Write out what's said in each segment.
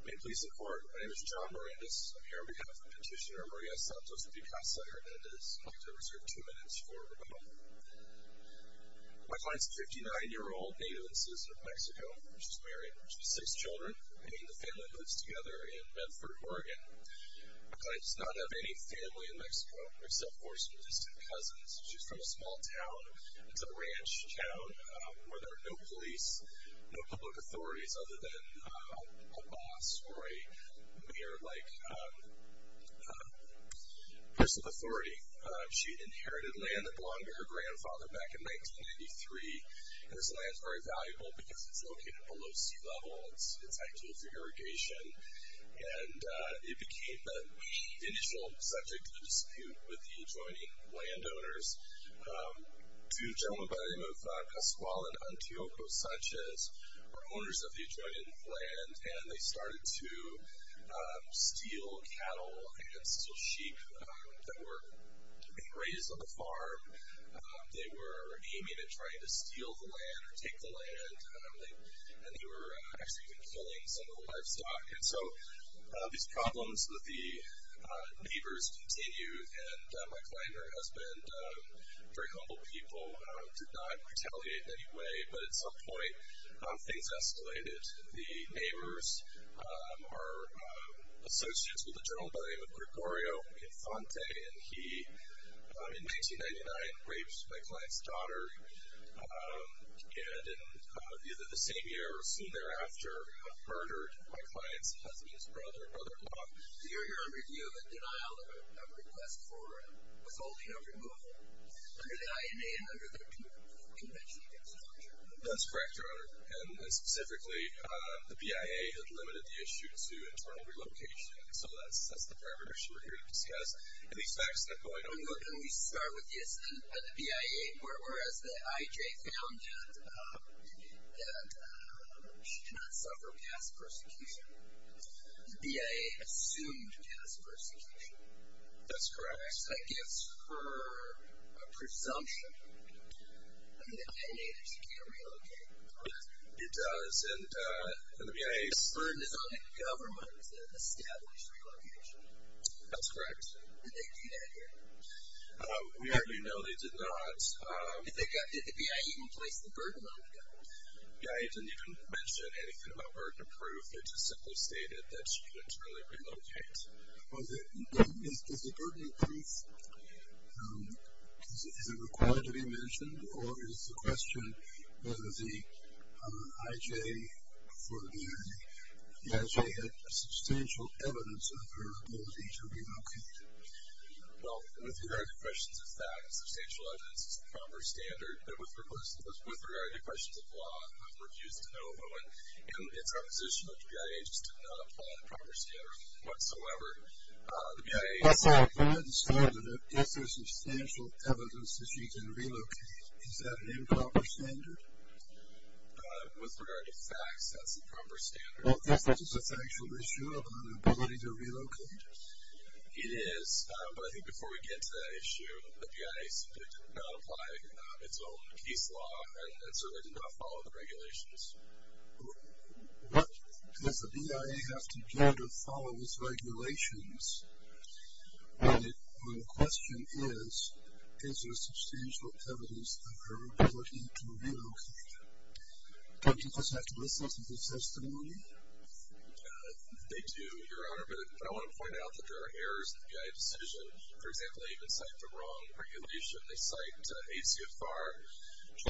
May it please the court, my name is John Mirandas. I'm here on behalf of Petitioner Maria Santos Picasa Hernandez. I'd like to reserve two minutes for rebuttal. My client's a 59-year-old native and citizen of Mexico. She's married. She has six children. Me and the family lives together in Medford, Oregon. My client does not have any family in Mexico, except for some distant cousins. She's from a small town. It's a ranch town where there are no police, no public authorities other than a boss or a mayor-like person of authority. She inherited land that belonged to her grandfather back in 1993. This land's very valuable because it's located below sea level. It's ideal for irrigation. And it became the initial subject of dispute with the adjoining landowners. Two gentlemen by the name of Pascual and Antioco Sanchez are owners of the adjoining land, and they started to steal cattle and steal sheep that were being raised on the farm. They were aiming at trying to steal the land or take the land. And they were actually even killing some of the livestock. And so these problems with the neighbors continue. And my client and her husband, very humble people, did not retaliate in any way. But at some point, things escalated. The neighbors are associates with a gentleman by the name of Gregorio Infante, and he, in 1999, raped my client's daughter, and in either the same year or soon thereafter, murdered my client's husband, his brother, and other in-laws. So you're here on review of a denial of request for withholding or removal under the INA and under the convention against torture? That's correct, Your Honor. And specifically, the BIA had limited the issue to internal relocation. So that's the parameters you're here to discuss. And these facts that are going on. And we start with the BIA, whereas the IJ found that she did not suffer past persecution. The BIA assumed past persecution. That's correct. So that gives her a presumption that the INA is going to relocate. It does. And the BIA's burden is on the government to establish relocation. That's correct. Did they do that here? We already know they did not. Did the BIA even place the burden on the government? The BIA didn't even mention anything about burden of proof. They just simply stated that she didn't really relocate. Is the burden of proof, is it required to be mentioned, or is the question whether the IJ had substantial evidence of her ability to relocate? Well, with regard to questions of facts, substantial evidence is the primary standard. But with regard to questions of law, I would refuse to know. But when it's our position that the BIA just did not apply the primary standard whatsoever, Yes, sir. I understand that if there's substantial evidence that she didn't relocate, is that an improper standard? With regard to facts, that's the proper standard. Is this a factual issue about her ability to relocate? It is. But I think before we get to that issue, the BIA did not apply its own case law, and so they did not follow the regulations. Does the BIA have to get or follow these regulations when the question is, is there substantial evidence of her ability to relocate? Don't you just have to listen to the testimony? They do, Your Honor. But I want to point out that there are errors in the BIA decision. For example, they even cite the wrong regulation. They cite ACFR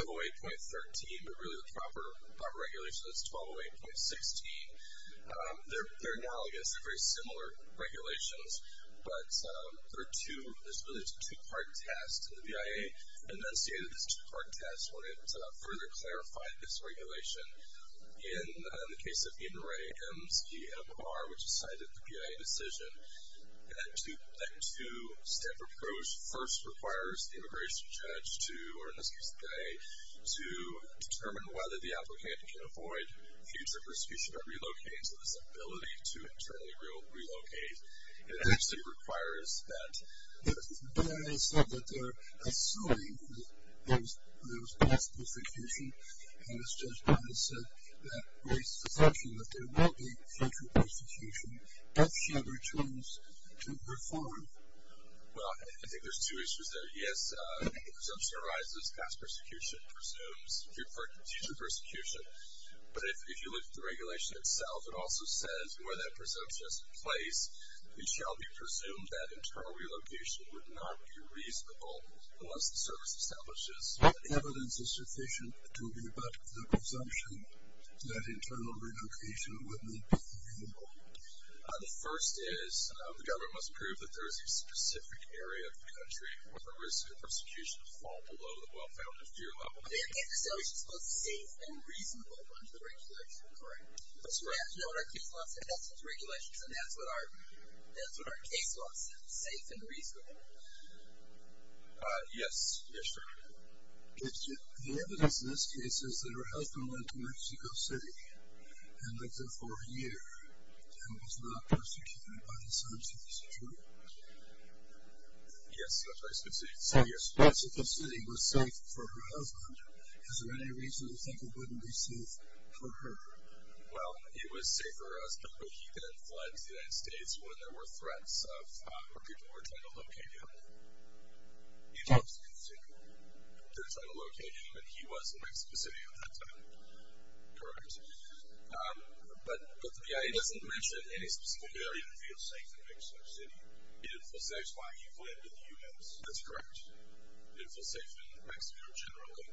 1208.13, but really the proper regulation is 1208.16. They're analogous. They're very similar regulations. But there's really a two-part test. The BIA enunciated this two-part test when it further clarified this regulation. In the case of Eden Rae M's PMR, which decided the BIA decision, that two-step approach first requires the immigration judge to, or in this case Rae, to determine whether the applicant can avoid future prosecution by relocating to this ability to internally relocate. It actually requires that. The BIA said that they're assuming that there was possible prosecution, and as Judge Donovan said, that raised the assumption that there will be factual prosecution, if she ever chose to perform. Well, I think there's two issues there. Yes, the assumption arises past prosecution presumes future persecution. But if you look at the regulation itself, it also says where that presumption is in place, it shall be presumed that internal relocation would not be reasonable unless the service establishes. But evidence is sufficient to be about the presumption that internal relocation would not be feasible. The first is the government must prove that there is a specific area of the country where the risk of prosecution would fall below the well-founded fear level. They have to establish it's both safe and reasonable under the regulation, correct? That's correct. That's what our case law says, safe and reasonable. Yes, Commissioner. The evidence in this case is that her husband lived in Mexico City and lived there for a year and was not persecuted by the sanctions, true? Yes, Mexico City. So Mexico City was safe for her husband. Is there any reason to think it wouldn't be safe for her? Well, it was safe for her husband, but he then fled to the United States when there were threats of where people were trying to locate him. He chose to continue their trying to locate him, and he was in Mexico City at that time. Correct. But the BIA doesn't mention any specific area. He didn't feel safe in Mexico City. He didn't feel safe while he fled to the U.S.? That's correct. He didn't feel safe in Mexico generally.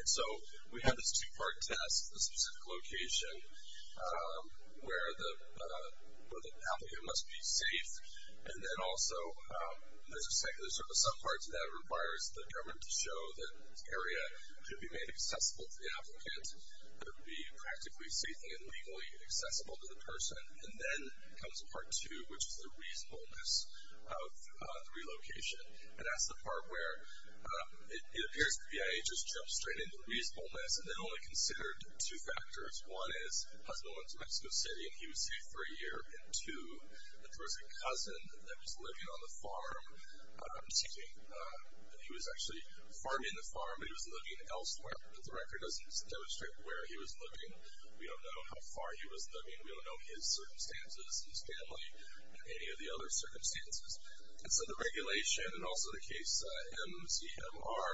And so we have this two-part test, the specific location where the affluent must be safe, and then also there's some parts that requires the government to show that the area could be made accessible to the applicant, it would be practically safe and legally accessible to the person, and then comes part two, which is the reasonableness of the relocation. And that's the part where it appears the BIA just jumped straight into reasonableness and then only considered two factors. One is her husband went to Mexico City and he was safe for a year, and two, that there was a cousin that was living on the farm, and he was actually farming the farm, but he was living elsewhere. The record doesn't demonstrate where he was living. We don't know how far he was living. We don't know his circumstances, his family, and any of the other circumstances. And so the regulation and also the case MZMR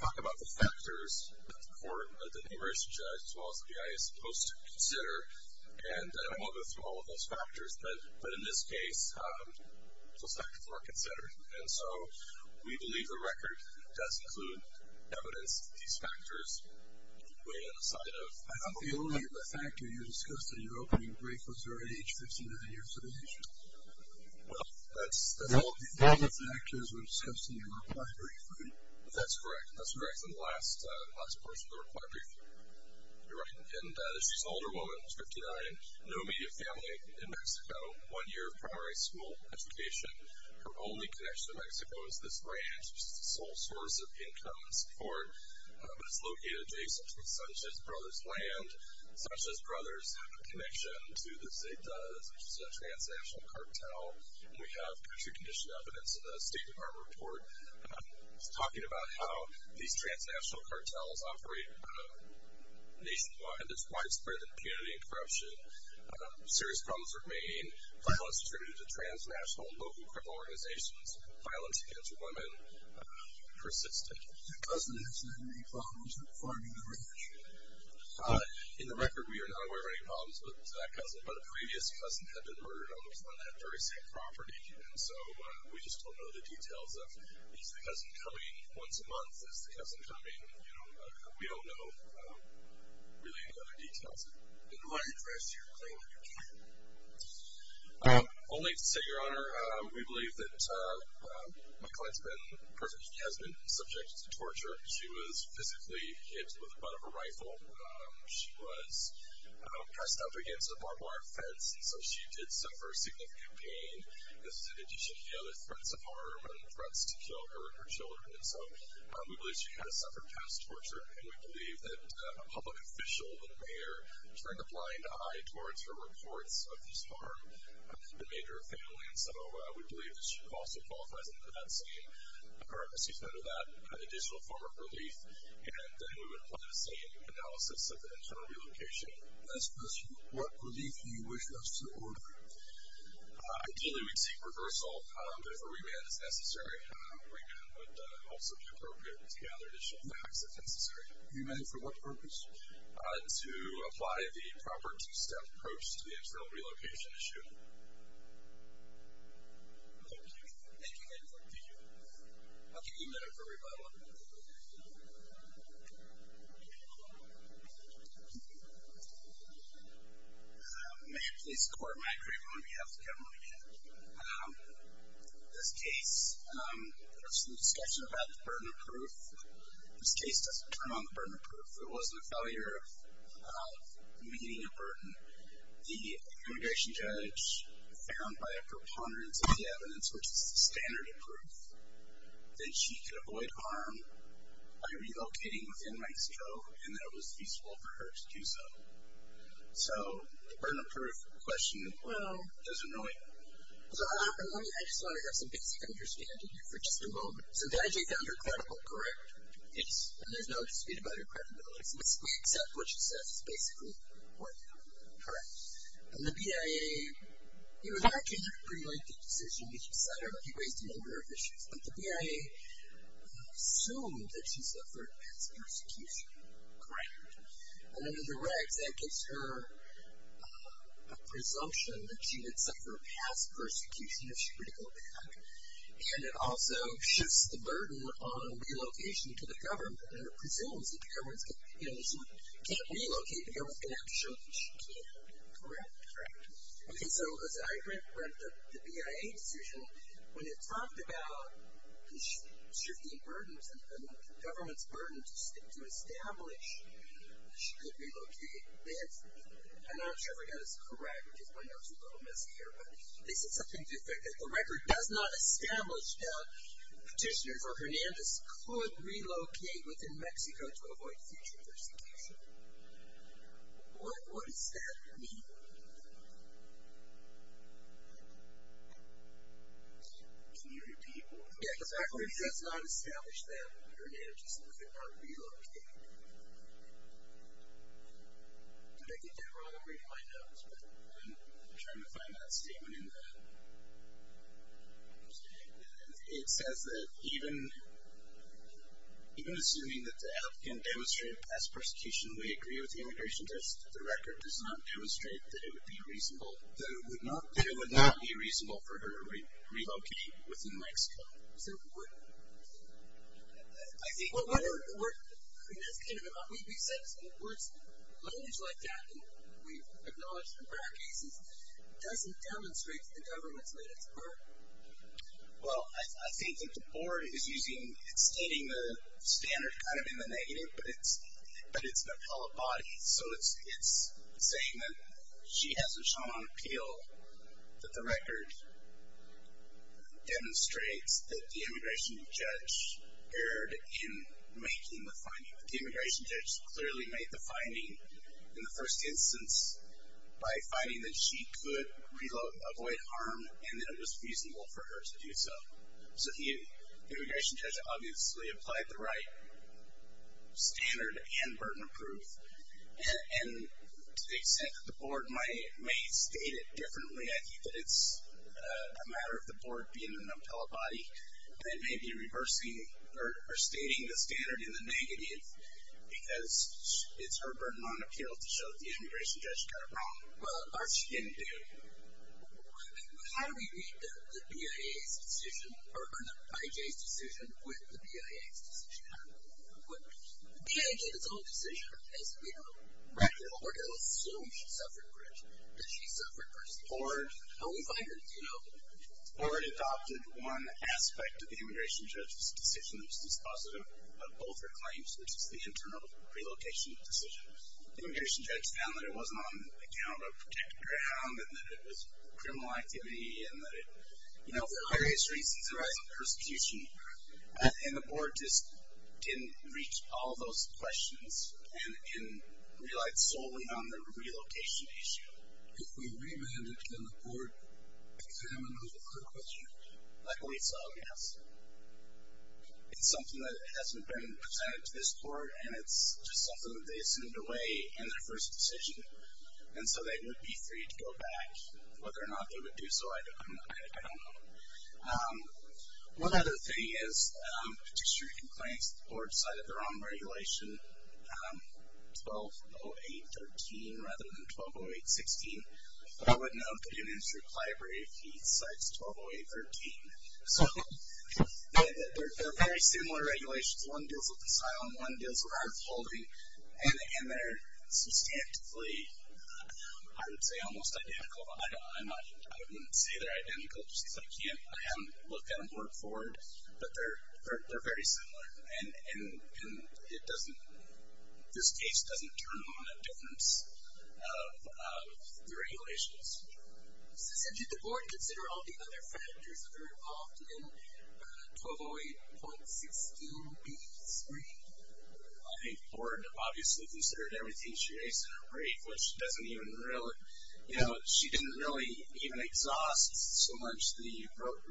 talk about the factors that the court, the university judge as well as the BIA is supposed to consider, and I won't go through all of those factors, but in this case those factors were considered. And so we believe the record does include evidence of these factors. The only factor you discussed in your opening brief was her age, 59 years of age. Well, that's all the factors were discussed in your required brief. That's correct. That's correct. That's the last portion of the required brief. You're right. And she's an older woman, 59, no immediate family in Mexico, one year of primary school education. Her only connection to Mexico is this ranch, which is the sole source of income and support, but it's located adjacent to the Sanchez Brothers' land. The Sanchez Brothers have a connection to the Zetas, which is a transnational cartel, and we have country condition evidence in the State Department report talking about how these transnational cartels operate nationwide. There's widespread impunity and corruption. Serious problems remain. Violence is attributed to transnational and local criminal organizations. Violence against women persists. Does the cousin have any problems with farming the ranch? In the record, we are not aware of any problems with that cousin, but a previous cousin had been murdered on the front of that very same property, and so we just don't know the details of, is the cousin coming once a month? Is the cousin coming? You know, we don't know really any other details. In what address do you claim that you killed her? Only to say, Your Honor, we believe that my client's been a person who has been subjected to torture. She was physically hit with the butt of a rifle. She was pressed up against a barbed wire fence, and so she did suffer significant pain. This is in addition to the other threats of harm and threats to kill her and her children, and so we believe she has suffered past torture, and we believe that a public official, the mayor, turned a blind eye towards her reports of this harm and made her a family, and so we believe that she also qualifies under that scheme, or excuse me, under that additional form of relief, and we would apply the same analysis of the internal relocation. Last question. What relief do you wish us to order? Ideally, we'd seek reversal, but if a remand is necessary, a remand would also be appropriate to gather additional facts if necessary. You mean for what purpose? To apply the proper two-step approach to the internal relocation issue. Thank you. Thank you, Your Honor. Thank you. I'll give you a minute for rebuttal. Mayor, please record my agreement on behalf of the government again. This case, there was some discussion about the burden of proof. This case doesn't turn on the burden of proof. There wasn't a failure of meeting a burden. The immigration judge found by a preponderance of the evidence, which is the standard of proof, that she could avoid harm by relocating within Mike's Cove and that it was useful for her to do so. So the burden of proof question, well, is annoying. I just want to have some basic understanding here for just a moment. So the IJ found her credible, correct? Yes. And there's no dispute about her credibility. So we accept what she says is basically what happened, correct? And the BIA, you know, that came after a pretty lengthy decision that she decided on. She raised a number of issues, but the BIA assumed that she suffered past persecution. Correct. And under the regs, that gives her a presumption that she would suffer past persecution if she were to go back. And it also shifts the burden on relocation to the government, and it presumes that the government can't relocate, but the government's going to have to show that she can. Correct. Correct. Okay, so as I read the BIA decision, when it talked about the shifting burdens and the government's burden to establish that she could relocate, they answered, and I'm not sure if I got this correct, which is why there was a little mishap here, but they said something to the effect that the record does not establish that petitioners or Hernandez could relocate within Mexico to avoid future persecution. What does that mean? Can you repeat what? Yeah, exactly. It does not establish that Hernandez could not relocate. Did I get that wrong? I'm reading my notes, but I'm trying to find that statement in the. It says that even assuming that the app can demonstrate past persecution, we agree with the immigration test, the record does not demonstrate that it would be reasonable, that it would not be reasonable for her to relocate within Mexico. So what, I think. That's kind of a, we've said some words, language like that, and we've acknowledged them for our cases, doesn't demonstrate that the government's made its part. Well, I think that the board is using, it's stating the standard kind of in the negative, but it's an appellate body. So it's saying that she hasn't shown an appeal, that the record demonstrates that the immigration judge erred in making the finding. The immigration judge clearly made the finding in the first instance by finding that she could avoid harm, and that it was reasonable for her to do so. So the immigration judge obviously applied the right standard and burden of proof. And to the extent that the board may state it differently, I think that it's a matter of the board being an appellate body that may be reversing or stating the standard in the negative because it's her burden on appeal to show that the immigration judge got it wrong. Well, or she didn't do. How do we read the BIA's decision, or the IJ's decision with the BIA's decision? The BIA did its own decision. We don't record it. We don't assume that she suffered first. How do we find her? The board adopted one aspect of the immigration judge's decision that was dispositive of both her claims, which is the internal relocation decision. The immigration judge found that it wasn't on account of protected ground and that it was criminal activity and that it, you know, for various reasons, there was a persecution. And the board just didn't reach all those questions and relied solely on the relocation issue. If we remand it, can the board examine the whole question? Like we saw, yes. It's something that hasn't been presented to this court, and it's just something that they assumed away in their first decision. And so they would be free to go back. Whether or not they would do so, I don't know. One other thing is, the petitioner complains that the board decided their own regulation, 1208.13, rather than 1208.16. But I would note that the administrative library of fees decides 1208.13. So they're very similar regulations. One deals with asylum, one deals with art of holding, and they're substantively, I would say, almost identical. I wouldn't say they're identical, just because I haven't looked at them to look forward, but they're very similar. And this case doesn't turn on a difference of the regulations. Susan, did the board consider all the other factors that are involved in 1208.16b3? I think the board obviously considered everything she raised in her brief, which doesn't even really, you know, she didn't really even exhaust so much the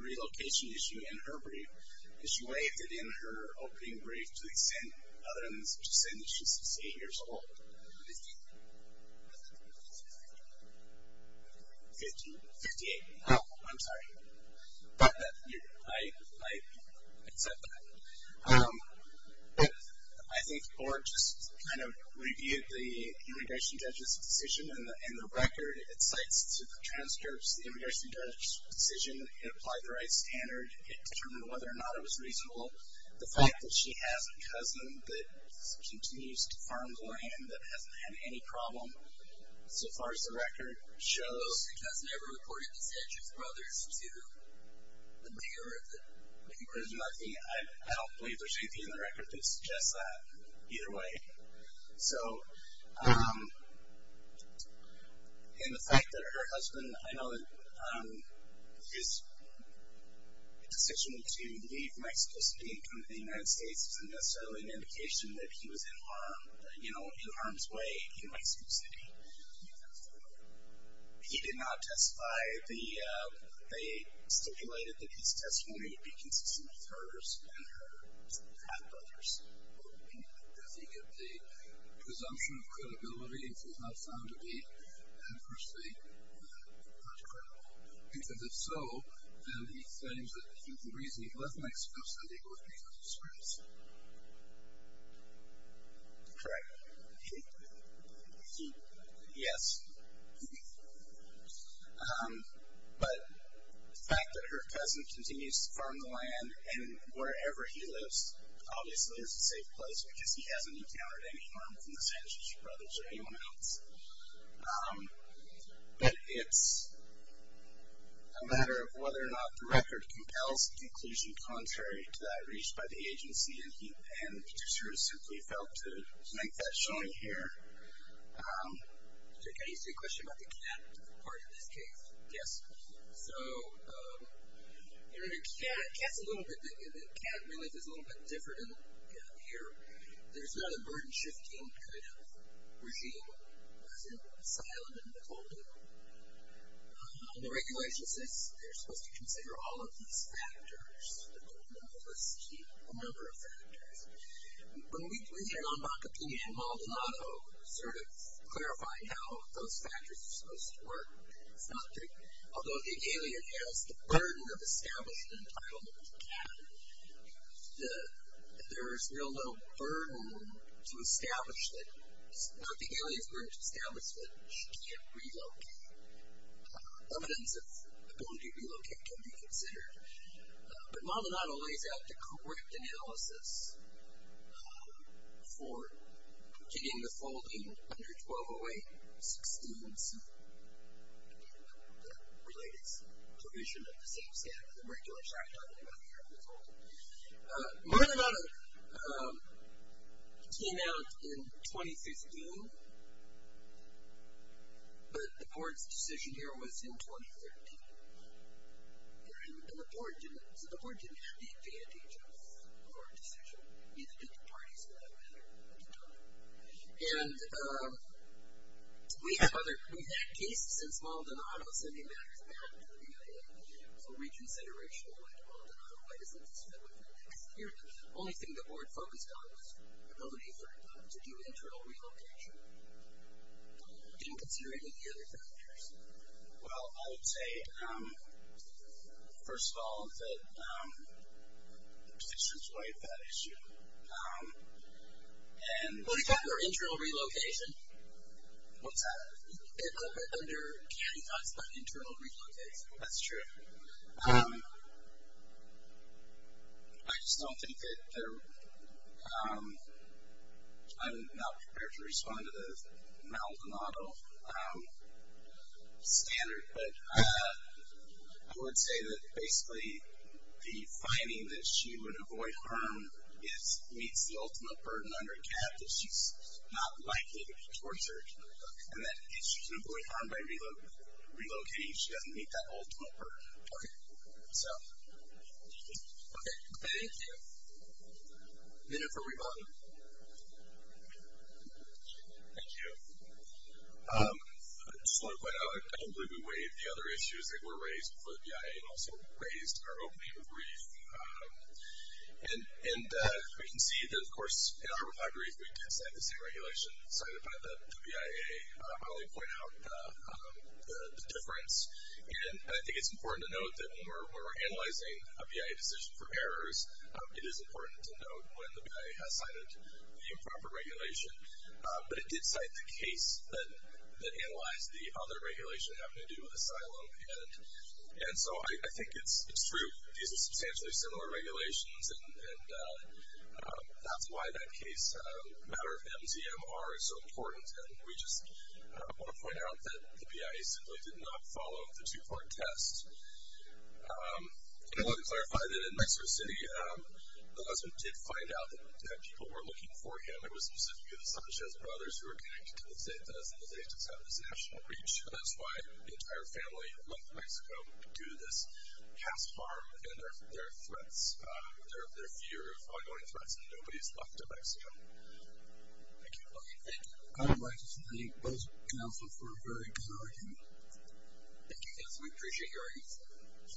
relocation issue in her brief, because she waived it in her opening brief to the extent, other than to the extent that she's 68 years old. Fifty-eight. I'm sorry. I accept that. But I think the board just kind of reviewed the immigration judge's decision, and the record, it cites to the transcripts the immigration judge's decision. It applied the right standard. It determined whether or not it was reasonable. The fact that she has a cousin that continues to farm for him that hasn't had any problem so far as the record shows. Has the cousin ever reported the Sedgwick brothers to the mayor? I don't believe there's anything in the record that suggests that either way. So, and the fact that her husband, I know that his decision to leave Mexico City and come to the United States isn't necessarily an indication that he was in harm's way in Mexico City. He did not testify. They stipulated that his testimony would be consistent with hers and her half-brothers. Does he give the presumption of credibility? It's not found to be, unfortunately, not credible. If it's so, then he claims that the reason he left Mexico City was because of scrimmage. Correct. He, yes. But the fact that her cousin continues to farm the land and wherever he lives obviously is a safe place because he hasn't encountered any harm from the Sedgwick brothers or anyone else. But it's a matter of whether or not the record compels the conclusion contrary to that reached by the agency and the producer has simply failed to make that showing here. I used to have a question about the cat part of this case. Yes. So, you know, the cat's a little bit, the cat relief is a little bit different in here. There's not a burden-shifting kind of regime as in asylum and withholding. The regulation says they're supposed to consider all of these factors, but they're not supposed to keep a number of factors. When we put that on Bacopini and Maldonado, sort of clarifying how those factors are supposed to work, it's not that, although the alien has the burden of establishing an entitlement to the cat, there is real little burden to establish that. Now, if the alien is going to establish that, she can't relocate. Evidence of ability to relocate can be considered. But Maldonado lays out the correct analysis for getting the folding under 1208.16, the related provision of the same standard, the regular shotgun and the withholding. Maldonado came out in 2015, but the board's decision here was in 2013. And the board didn't have the advantage of a board decision, neither did the parties for that matter at the time. And we have other, we've had cases since Maldonado sending matters back to the CIA for reconsideration. We went to Maldonado, why doesn't this fit with the next year? The only thing the board focused on was the ability for Maldonado to do internal relocation. Didn't consider any of the other factors. Well, I would say, first of all, that the position is quite a bad issue. What do you call your internal relocation? What's that? A little bit under candy cuts, but internal relocation. That's true. I just don't think that they're, I'm not prepared to respond to the Maldonado standard, but I would say that basically the finding that she would avoid harm meets the ultimate burden under CAP, that she's not likely to be tortured, and that if she's going to avoid harm by relocating, she doesn't meet that ultimate burden. So, okay. Thank you. We have a minute for rebuttal. Thank you. I just want to point out, I don't believe we waived the other issues that were raised before the BIA, and also raised our opening brief. And we can see that, of course, in our repositories, we did sign the same regulation signed by the BIA. I'll probably point out the difference. And I think it's important to note that when we're analyzing a BIA decision for errors, it is important to note when the BIA has cited the improper regulation. But it did cite the case that analyzed the other regulation having to do with asylum. And so I think it's true. These are substantially similar regulations, and that's why that case matter of MZMR is so important. And we just want to point out that the BIA simply did not follow the two-part test. And I want to clarify that in Mexico City, the husband did find out that people were looking for him. It was specifically the Sanchez brothers who were connected to the Zetas, and the Zetas have this national reach. And that's why the entire family left Mexico due to this past harm and their threats, their fear of ongoing threats. And nobody's left of Mexico. Thank you. Okay, thank you. I'd like to thank both counsels for a very good argument. Thank you, guys. Happy travels.